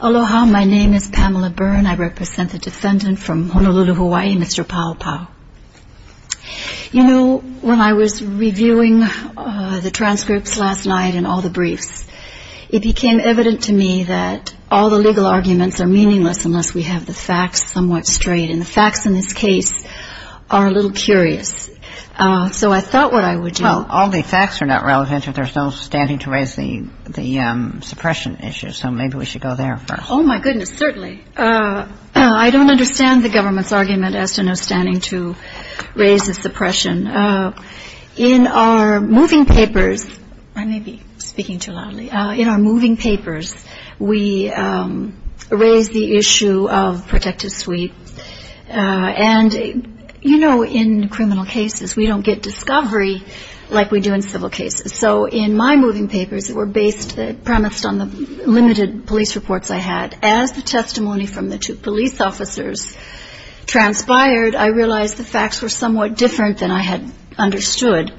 Aloha, my name is Pamela Byrne. I represent the defendant from Honolulu, Hawaii, Mr. Paopao. You know, when I was reviewing the transcripts last night and all the briefs, it became evident to me that all the legal arguments are meaningless unless we have the facts somewhat straight. And the facts in this case are a little curious. So I thought what I would do... All the facts are not relevant if there's no standing to raise the suppression issue. So maybe we should go there first. Oh, my goodness, certainly. I don't understand the government's argument as to no standing to raise the suppression. In our moving papers, I may be speaking too loudly. In our moving papers, we raise the issue of protective sweep. And, you know, in criminal cases, we don't get discovery like we do in civil cases. So in my moving papers that were based, premised on the limited police reports I had, as the testimony from the two police officers transpired, I realized the facts were somewhat different than I had understood.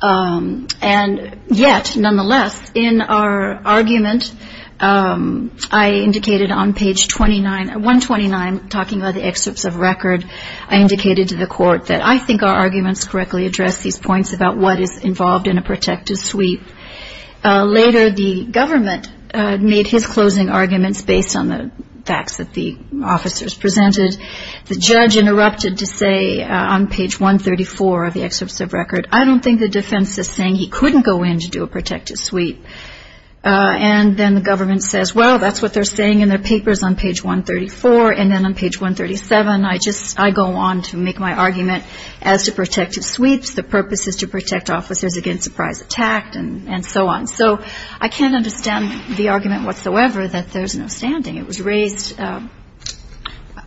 And yet, nonetheless, in our argument, I indicated on page 129, talking about the excerpts of record, I indicated to the court that I think our arguments correctly address these points about what is involved in a protective sweep. Later, the government made his closing arguments based on the facts that the officers presented. The judge interrupted to say on page 134 of the excerpts of record, I don't think the defense is saying he couldn't go in to do a protective sweep. And then the government says, well, that's what they're saying in their papers on page 134. And then on page 137, I go on to make my argument as to protective sweeps. The purpose is to protect officers against surprise attack and so on. So I can't understand the argument whatsoever that there's no standing. It was raised throughout.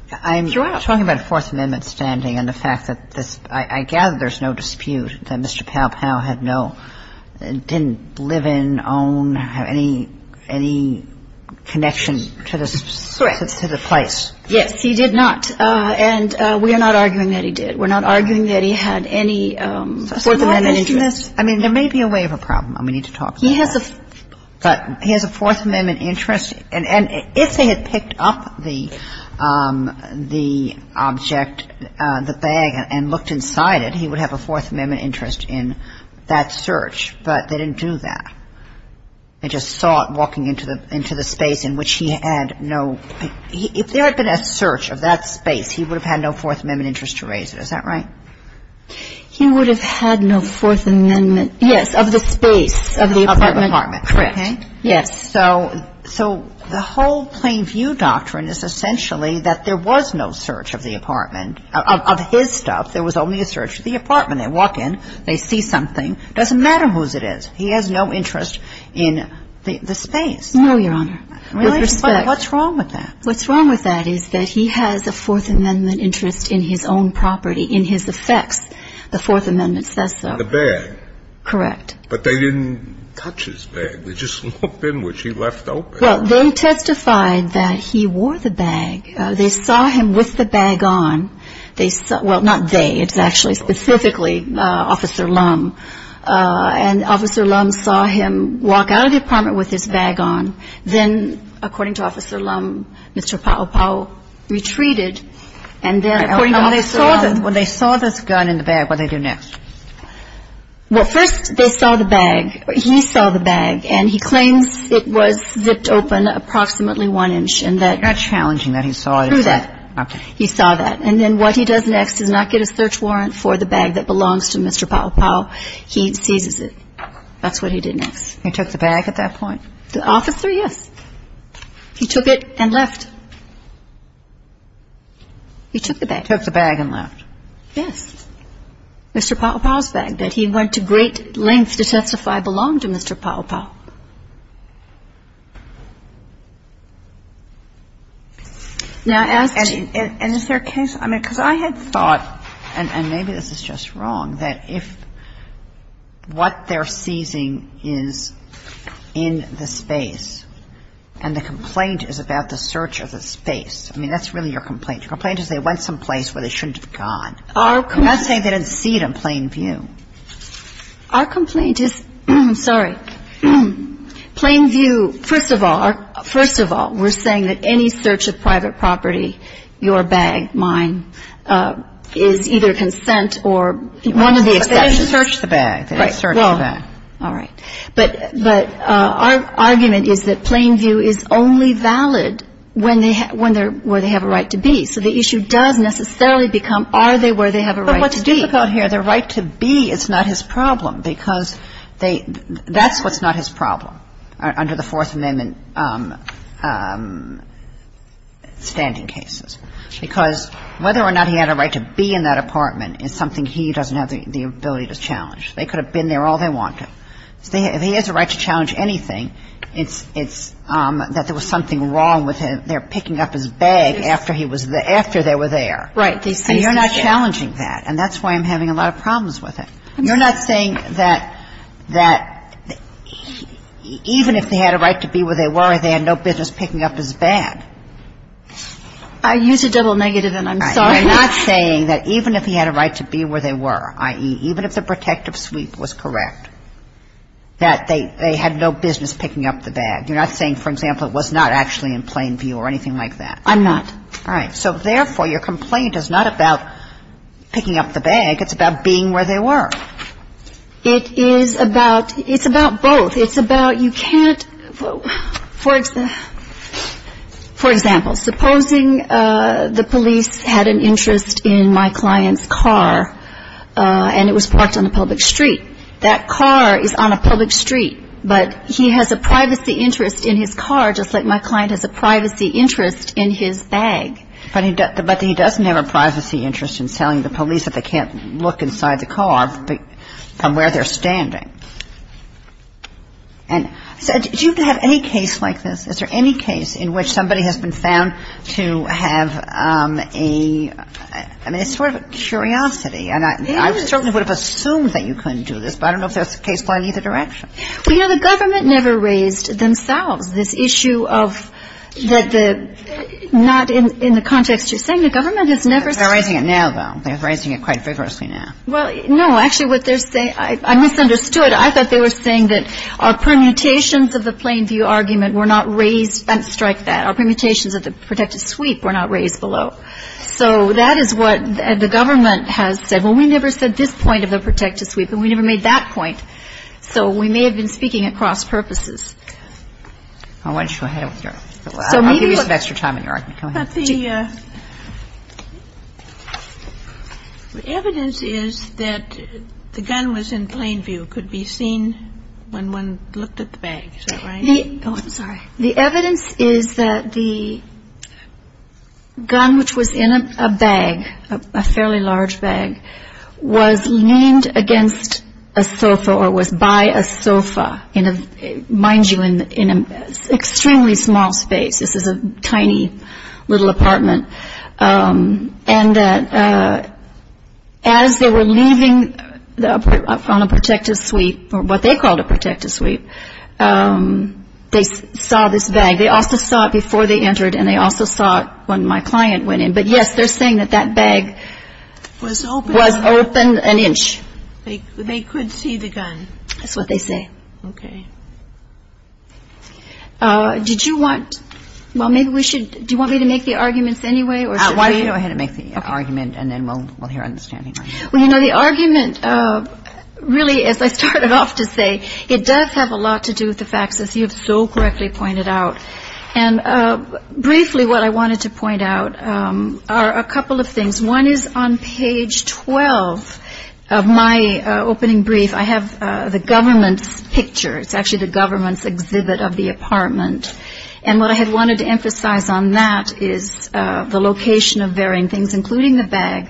Kagan. I'm talking about Fourth Amendment standing and the fact that this – I gather there's no dispute that Mr. Pow-Pow had no – didn't live in, own, have any connection to the place. Yes. He did not. And we are not arguing that he did. We're not arguing that he had any Fourth Amendment interest. I mean, there may be a way of a problem. We need to talk about that. He has a Fourth Amendment interest. And if they had picked up the object, the bag, and looked inside it, he would have a Fourth Amendment interest in that search. But they didn't do that. They just saw it walking into the space in which he had no – if there had been a search of that space, he would have had no Fourth Amendment interest to raise it. Is that right? He would have had no Fourth Amendment – yes, of the space, of the apartment. Of the apartment, correct. Yes. So the whole plain view doctrine is essentially that there was no search of the apartment, of his stuff. There was only a search of the apartment. They walk in. They see something. It doesn't matter whose it is. He has no interest in the space. No, Your Honor. With respect. What's wrong with that? What's wrong with that is that he has a Fourth Amendment interest in his own property, in his effects. The Fourth Amendment says so. In the bag. Correct. But they didn't touch his bag. They just looked in which he left open. Well, they testified that he wore the bag. They saw him with the bag on. They – well, not they. It's actually specifically Officer Lum. And Officer Lum saw him walk out of the apartment with his bag on. Then, according to Officer Lum, Mr. Paopao retreated and then, according to Officer Lum – When they saw this gun in the bag, what did they do next? Well, first they saw the bag. He saw the bag. And he claims it was zipped open approximately one inch and that – Not challenging that he saw it. Through that. Okay. He saw that. And then what he does next is not get a search warrant for the bag that belongs to Mr. Paopao. He seizes it. That's what he did next. He took the bag at that point? The officer, yes. He took it and left. He took the bag. Took the bag and left. Yes. And then what happened? Mr. Paopao's bag. He went to great lengths to testify it belonged to Mr. Paopao. Now, as to – And is there a case – I mean, because I had thought, and maybe this is just wrong, that if what they're seizing is in the space and the complaint is about the search of the space – I mean, that's really your complaint. Your complaint is they went someplace where they shouldn't have gone. I'm not saying they didn't see it in plain view. Our complaint is – sorry. Plain view – first of all, we're saying that any search of private property, your bag, mine, is either consent or – One of the exceptions. They didn't search the bag. They didn't search the bag. All right. But our argument is that plain view is only valid when they're – where they have a right to be. So the issue does necessarily become are they where they have a right to be. But what's difficult here, their right to be is not his problem because they – that's what's not his problem under the Fourth Amendment standing cases because whether or not he had a right to be in that apartment is something he doesn't have the ability to challenge. They could have been there all they wanted. If he has a right to challenge anything, it's that there was something wrong with their picking up his bag after he was – after they were there. Right. And you're not challenging that. And that's why I'm having a lot of problems with it. You're not saying that even if they had a right to be where they were, they had no business picking up his bag. I used a double negative, and I'm sorry. You're not saying that even if he had a right to be where they were, i.e., even if the protective sweep was correct, that they had no business picking up the bag. You're not saying, for example, it was not actually in plain view or anything like that. I'm not. All right. So, therefore, your complaint is not about picking up the bag. It's about being where they were. It is about – it's about both. It's about you can't – for example, supposing the police had an interest in my client's car and it was parked on a public street. That car is on a public street, but he has a privacy interest in his car just like my client has a privacy interest in his bag. But he doesn't have a privacy interest in telling the police that they can't look inside the car from where they're standing. And so do you have any case like this? Is there any case in which somebody has been found to have a – I mean, it's sort of a curiosity, and I certainly would have assumed that you couldn't do this, but I don't know if there's a case going either direction. Well, you know, the government never raised themselves this issue of that the – not in the context you're saying. The government has never – They're raising it now, though. They're raising it quite vigorously now. Well, no. Actually, what they're saying – I misunderstood. I thought they were saying that our permutations of the plain view argument were not raised – strike that. Our permutations of the protective sweep were not raised below. So that is what the government has said. Well, we never said this point of the protective sweep, and we never made that point. So we may have been speaking at cross purposes. I want you to go ahead with your – I'll give you some extra time in your argument. Go ahead. But the evidence is that the gun was in plain view, could be seen when one looked at the bag. Is that right? Oh, I'm sorry. The evidence is that the gun, which was in a bag, a fairly large bag, was leaned against a sofa or was by a sofa in a – mind you, in an extremely small space. This is a tiny little apartment. And as they were leaving from a protective sweep, or what they called a protective sweep, they saw this bag. They also saw it before they entered, and they also saw it when my client went in. But, yes, they're saying that that bag was open an inch. They could see the gun. That's what they say. Okay. Did you want – well, maybe we should – do you want me to make the arguments anyway? Why don't you go ahead and make the argument, and then we'll hear understanding. Well, you know, the argument really, as I started off to say, it does have a lot to do with the facts, as you have so correctly pointed out. And briefly what I wanted to point out are a couple of things. One is on page 12 of my opening brief. I have the government's picture. It's actually the government's exhibit of the apartment. And what I had wanted to emphasize on that is the location of varying things, including the bag,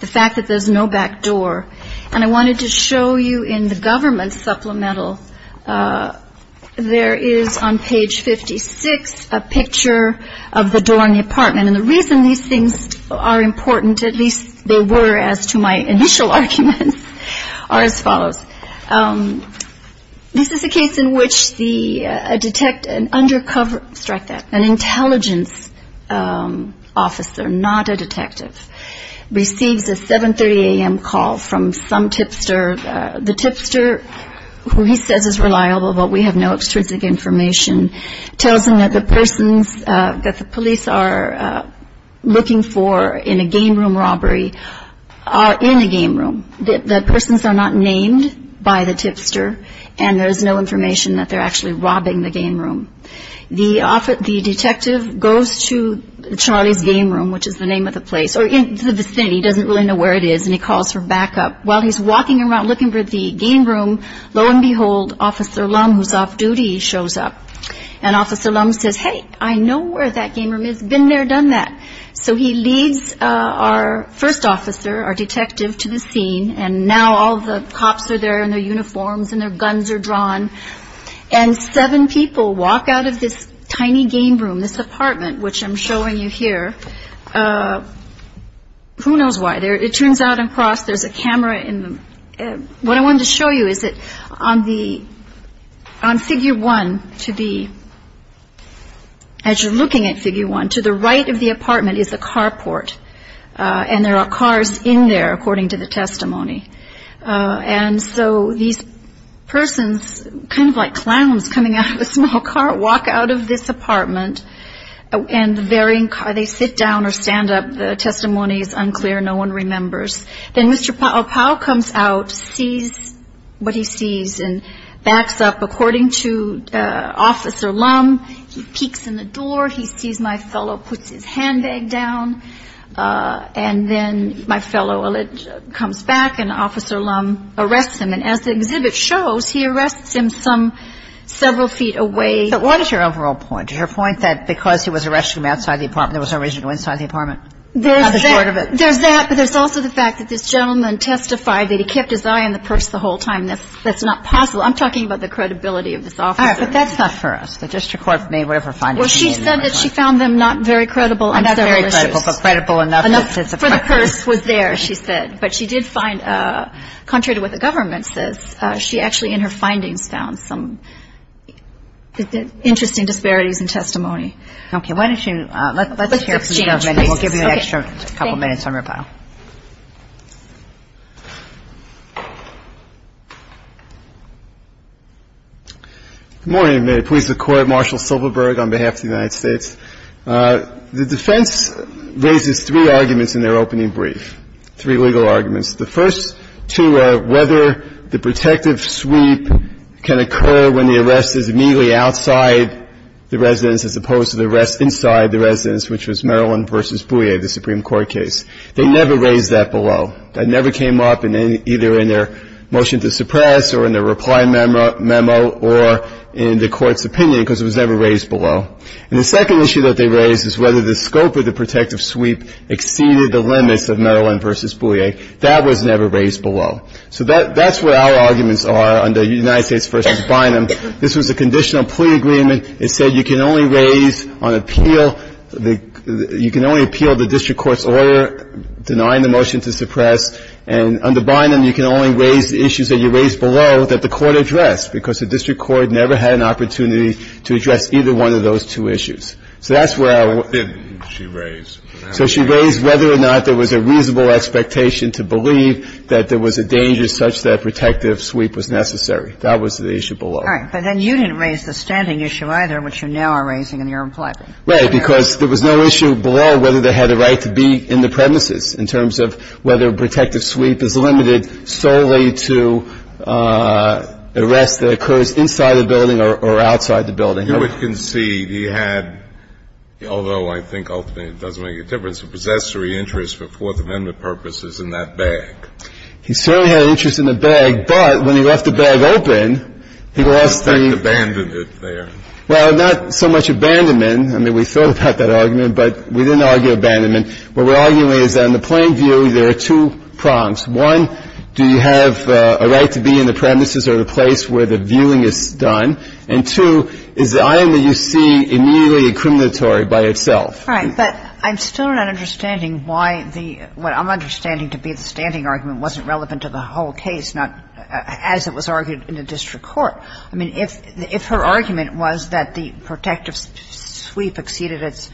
the fact that there's no back door. And I wanted to show you in the government supplemental, there is on page 56 a picture of the door in the apartment. And the reason these things are important, at least they were as to my initial arguments, are as follows. This is a case in which the – an undercover – strike that – an intelligence officer, not a detective, receives a 7.30 a.m. call from some tipster. The tipster, who he says is reliable, but we have no extrinsic information, tells him that the persons that the police are looking for in a game room robbery are in a game room. The persons are not named by the tipster, and there's no information that they're actually robbing the game room. The detective goes to Charlie's game room, which is the name of the place, or into the vicinity. He doesn't really know where it is, and he calls for backup. While he's walking around looking for the game room, lo and behold, Officer Lum, who's off-duty, shows up. And Officer Lum says, hey, I know where that game room is. Been there, done that. So he leads our first officer, our detective, to the scene, and now all the cops are there in their uniforms and their guns are drawn. And seven people walk out of this tiny game room, this apartment, which I'm showing you here. Who knows why? It turns out across, there's a camera in the... What I wanted to show you is that on the... on Figure 1, to the... As you're looking at Figure 1, to the right of the apartment is a carport, and there are cars in there, according to the testimony. And so these persons, kind of like clowns coming out of a small car, walk out of this apartment, and they sit down or stand up. The testimony is unclear. No one remembers. Then Mr. Paopao comes out, sees what he sees, and backs up. According to Officer Lum, he peeks in the door, he sees my fellow, puts his handbag down, and then my fellow comes back, and Officer Lum arrests him. And as the exhibit shows, he arrests him some several feet away. But what is your overall point? Is your point that because he was arresting him outside the apartment, there was no reason to arrest him inside the apartment? There's that, but there's also the fact that this gentleman testified that he kept his eye on the purse the whole time. That's not possible. I'm talking about the credibility of this officer. All right, but that's not for us. The district court made whatever findings it needed. Well, she said that she found them not very credible. Not very credible, but credible enough. For the purse was there, she said. But she did find, contrary to what the government says, she actually in her findings found some interesting disparities in testimony. Okay. Why don't you let's hear from the government. We'll give you an extra couple minutes on your part. Good morning. May it please the Court. Marshall Silverberg on behalf of the United States. The defense raises three arguments in their opening brief, three legal arguments. The first two are whether the protective sweep can occur when the arrest is immediately outside the residence as opposed to the arrest inside the residence, which was Maryland v. Boullier, the Supreme Court case. They never raised that below. That never came up in either in their motion to suppress or in their reply memo or in the Court's opinion because it was never raised below. And the second issue that they raised is whether the scope of the protective sweep exceeded the limits of Maryland v. Boullier. That was never raised below. So that's where our arguments are under United States v. Bynum. This was a conditional plea agreement. It said you can only raise on appeal, you can only appeal the district court's order denying the motion to suppress. And under Bynum, you can only raise the issues that you raised below that the court addressed because the district court never had an opportunity to address either one of those two issues. So that's where our. Didn't she raise. So she raised whether or not there was a reasonable expectation to believe that there was a danger such that protective sweep was necessary. That was the issue below. All right. But then you didn't raise the standing issue either, which you now are raising in your reply. Right, because there was no issue below whether they had a right to be in the premises in terms of whether protective sweep is limited solely to arrests that occurs inside the building or outside the building. You would concede he had, although I think ultimately it doesn't make a difference, a possessory interest for Fourth Amendment purposes in that bag. He certainly had an interest in the bag, but when he left the bag open, he lost the. Abandoned it there. Well, not so much abandonment. I mean, we thought about that argument, but we didn't argue abandonment. What we're arguing is that in the plain view, there are two prompts. One, do you have a right to be in the premises or the place where the viewing is done? And two, is the item that you see immediately incriminatory by itself? Right. But I'm still not understanding why the – what I'm understanding to be the standing argument wasn't relevant to the whole case, not as it was argued in the district court. I mean, if her argument was that the protective sweep exceeded its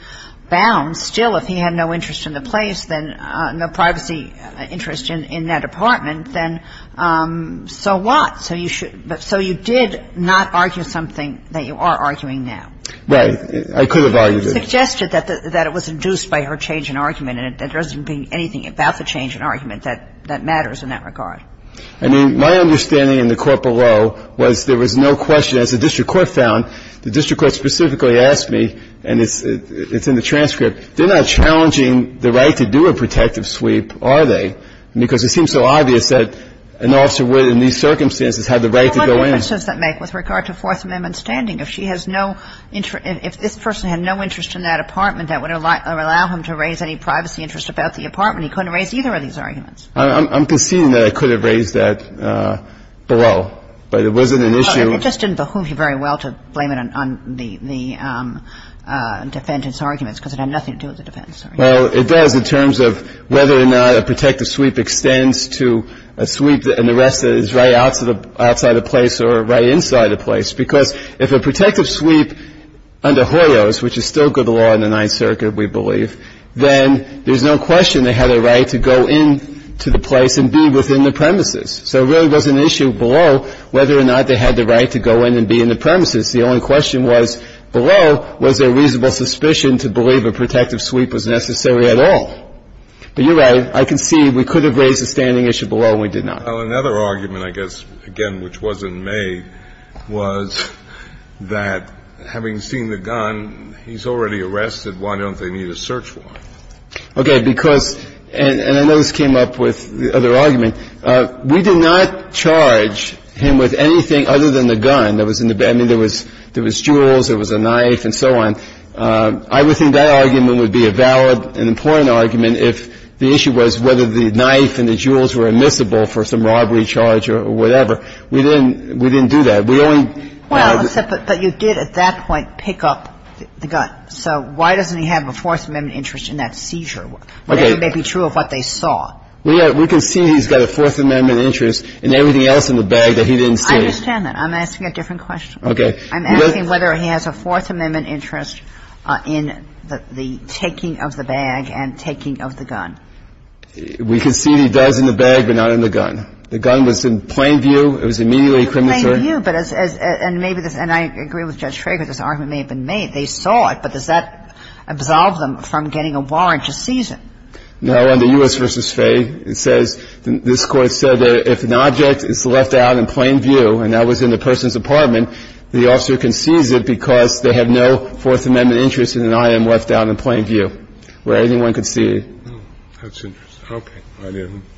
bounds, still if he had no interest in the place, then no privacy interest in that apartment, then so what? So you should – so you did not argue something that you are arguing now. Right. I could have argued it. You suggested that it was induced by her change in argument, and there doesn't be anything about the change in argument that matters in that regard. I mean, my understanding in the court below was there was no question. As the district court found, the district court specifically asked me, and it's in the transcript, they're not challenging the right to do a protective sweep, are they? And I said, no. Because it seems so obvious that an officer would, in these circumstances, have the right to go in. But what difference does that make with regard to Fourth Amendment standing? If she has no – if this person had no interest in that apartment, that would allow him to raise any privacy interest about the apartment. He couldn't raise either of these arguments. I'm conceding that I could have raised that below, but it wasn't an issue. It just didn't behoove you very well to blame it on the defendant's arguments because it had nothing to do with the defendant's arguments. Well, it does in terms of whether or not a protective sweep extends to a sweep and the rest is right outside the place or right inside the place. Because if a protective sweep under Hoyos, which is still good law in the Ninth Circuit, we believe, then there's no question they had a right to go in to the place and be within the premises. So it really was an issue below whether or not they had the right to go in and be in the premises. The only question was, below, was there reasonable suspicion to believe a sweep was necessary at all. But you're right. I concede we could have raised the standing issue below and we did not. Well, another argument, I guess, again, which wasn't made, was that having seen the gun, he's already arrested. Why don't they need a search warrant? Okay. Because – and I know this came up with the other argument. We did not charge him with anything other than the gun that was in the – I mean, there was jewels, there was a knife and so on. I would think that argument would be a valid and important argument if the issue was whether the knife and the jewels were admissible for some robbery charge or whatever. We didn't do that. We only had the – Well, except that you did at that point pick up the gun. So why doesn't he have a Fourth Amendment interest in that seizure? Okay. Whatever may be true of what they saw. We can see he's got a Fourth Amendment interest in everything else in the bag that he didn't see. I understand that. I'm asking a different question. Okay. I'm asking whether he has a Fourth Amendment interest in the taking of the bag and taking of the gun. We can see he does in the bag, but not in the gun. The gun was in plain view. It was immediately a criminal charge. In plain view, but as – and maybe this – and I agree with Judge Trager that this argument may have been made. They saw it, but does that absolve them from getting a warrant to seize it? No. Under U.S. v. Fay, it says – this Court said that if an object is left out in plain view, and that was in the person's apartment, the officer can seize it because they have no Fourth Amendment interest in an item left out in plain view where anyone can see it. Oh, that's interesting. Okay. I didn't –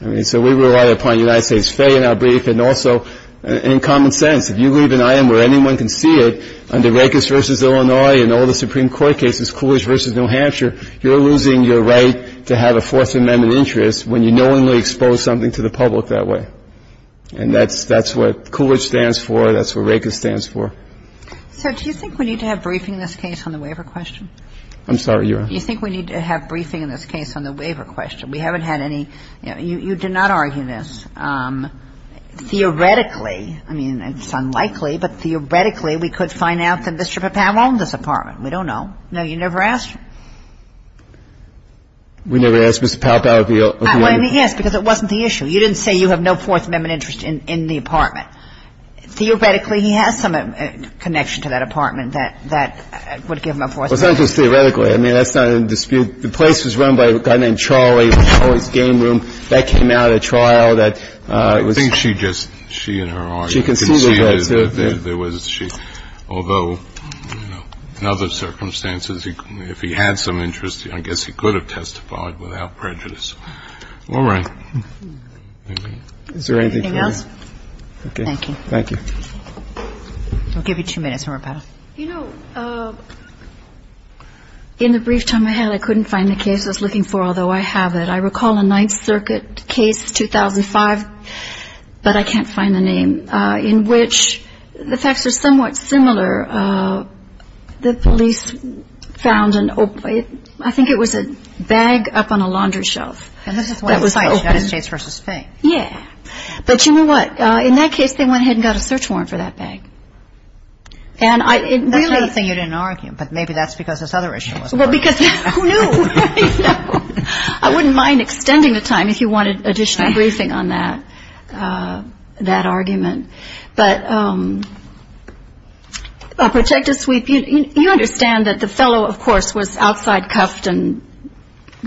I mean, so we rely upon United States Fay in our brief and also in common sense. If you leave an item where anyone can see it, under Rakes v. Illinois and all the Supreme Court cases, Coolidge v. New Hampshire, you're losing your right to have a Fourth Amendment interest when you knowingly expose something to the public that way. And that's – that's what Coolidge stands for. That's what Rakes stands for. So do you think we need to have briefing in this case on the waiver question? I'm sorry, Your Honor. Do you think we need to have briefing in this case on the waiver question? We haven't had any – you did not argue this. Theoretically – I mean, it's unlikely, but theoretically, we could find out that Mr. Papow owned this apartment. We don't know. No, you never asked. We never asked Mr. Papow if he owned it. I mean, yes, because it wasn't the issue. You didn't say you have no Fourth Amendment interest in the apartment. Theoretically, he has some connection to that apartment that would give him a Fourth Amendment interest. Well, it's not just theoretically. I mean, that's not in dispute. The place was run by a guy named Charlie, Charlie's Game Room. That came out at trial. That was – I think she just – she and her argument conceded that there was a – although, you know, in other circumstances, if he had some interest, I guess he could have testified without prejudice. All right. Is there anything else? Okay. Thank you. Thank you. We'll give you two minutes, Mr. Papow. You know, in the brief time I had, I couldn't find the case I was looking for, although I have it. I recall a Ninth Circuit case, 2005, but I can't find the name, in which the facts are somewhat similar. The police found an – I think it was a bag up on a laundry shelf. And this is when – That was open. United States versus Spain. Yeah. But you know what? In that case, they went ahead and got a search warrant for that bag. And I – it really – That's the other thing you didn't argue, but maybe that's because this other issue was open. Well, because who knew? I wouldn't mind extending the time if you wanted additional briefing on that – that argument. But a protective sweep – you understand that the fellow, of course, was outside cuffed and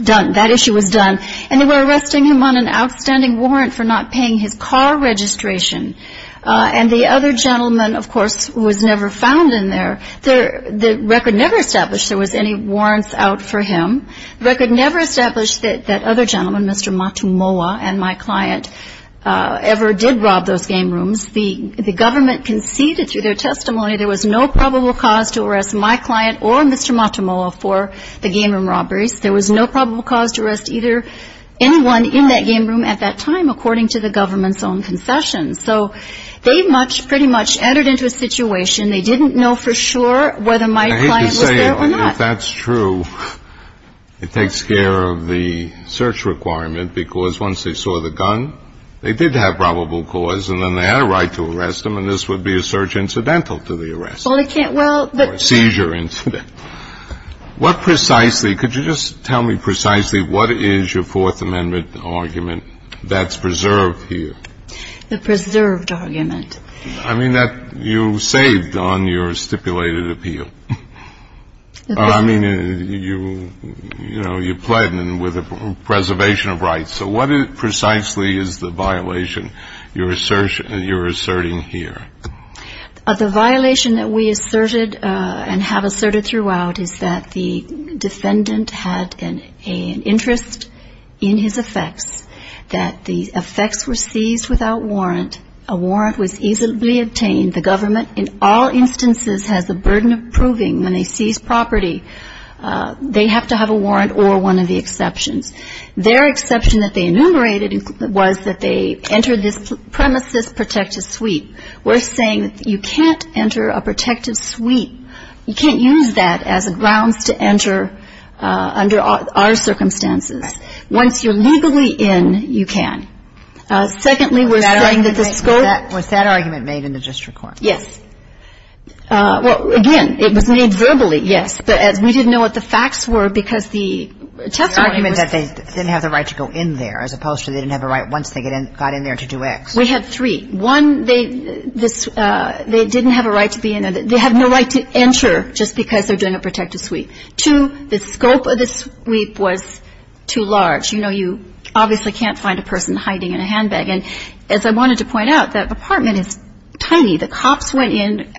done. That issue was done. And they were arresting him on an outstanding warrant for not paying his car registration. And the other gentleman, of course, was never found in there. The record never established there was any warrants out for him. The record never established that that other gentleman, Mr. Matumoa, and my client ever did rob those game rooms. The government conceded through their testimony there was no probable cause to arrest my client or Mr. Matumoa for the game room robberies. There was no probable cause to arrest either anyone in that game room at that time, according to the government's own concessions. So they much – pretty much entered into a situation. They didn't know for sure whether my client was there or not. I hate to say it, but if that's true, it takes care of the search requirement, because once they saw the gun, they did have probable cause, and then they had a right to arrest him, and this would be a search incidental to the arrest. Well, it can't – well – Or a seizure incident. What precisely – could you just tell me precisely what is your Fourth Amendment argument that's preserved here? The preserved argument. I mean, that you saved on your stipulated appeal. I mean, you – you know, you pledged with a preservation of rights. So what precisely is the violation you're asserting here? The violation that we asserted and have asserted throughout is that the defendant had an interest in his effects, that the effects were seized without warrant. A warrant was easily obtained. The government, in all instances, has the burden of proving when they seize property, they have to have a warrant or one of the exceptions. Their exception that they enumerated was that they entered this premises protective suite, we're saying that you can't enter a protective suite. You can't use that as a grounds to enter under our circumstances. Once you're legally in, you can. Secondly, we're saying that the scope – Was that argument made in the district court? Yes. Well, again, it was made verbally, yes, but we didn't know what the facts were because the testimony was – The argument that they didn't have the right to go in there as opposed to they didn't have a right once they got in there to do X. We had three. One, they didn't have a right to be in there. They have no right to enter just because they're doing a protective suite. Two, the scope of the suite was too large. You know, you obviously can't find a person hiding in a handbag. And as I wanted to point out, that apartment is tiny. The cops went in.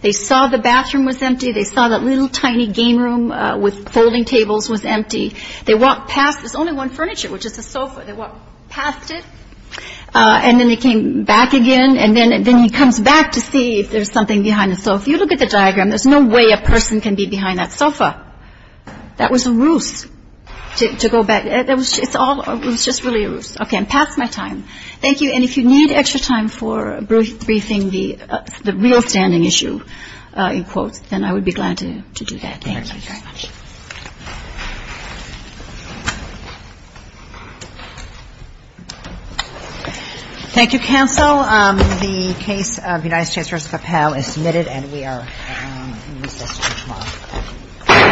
They saw the bathroom was empty. They saw that little tiny game room with folding tables was empty. They walked past – there's only one furniture, which is a sofa. They walked past it. And then they came back again. And then he comes back to see if there's something behind the sofa. If you look at the diagram, there's no way a person can be behind that sofa. That was a ruse to go back. It's all – it was just really a ruse. Okay, I'm past my time. Thank you. And if you need extra time for briefing the real standing issue in quotes, then I would be glad to do that. Thank you very much. Thank you. Thank you, counsel. The case of the United States v. Capel is submitted, and we are in recess until tomorrow.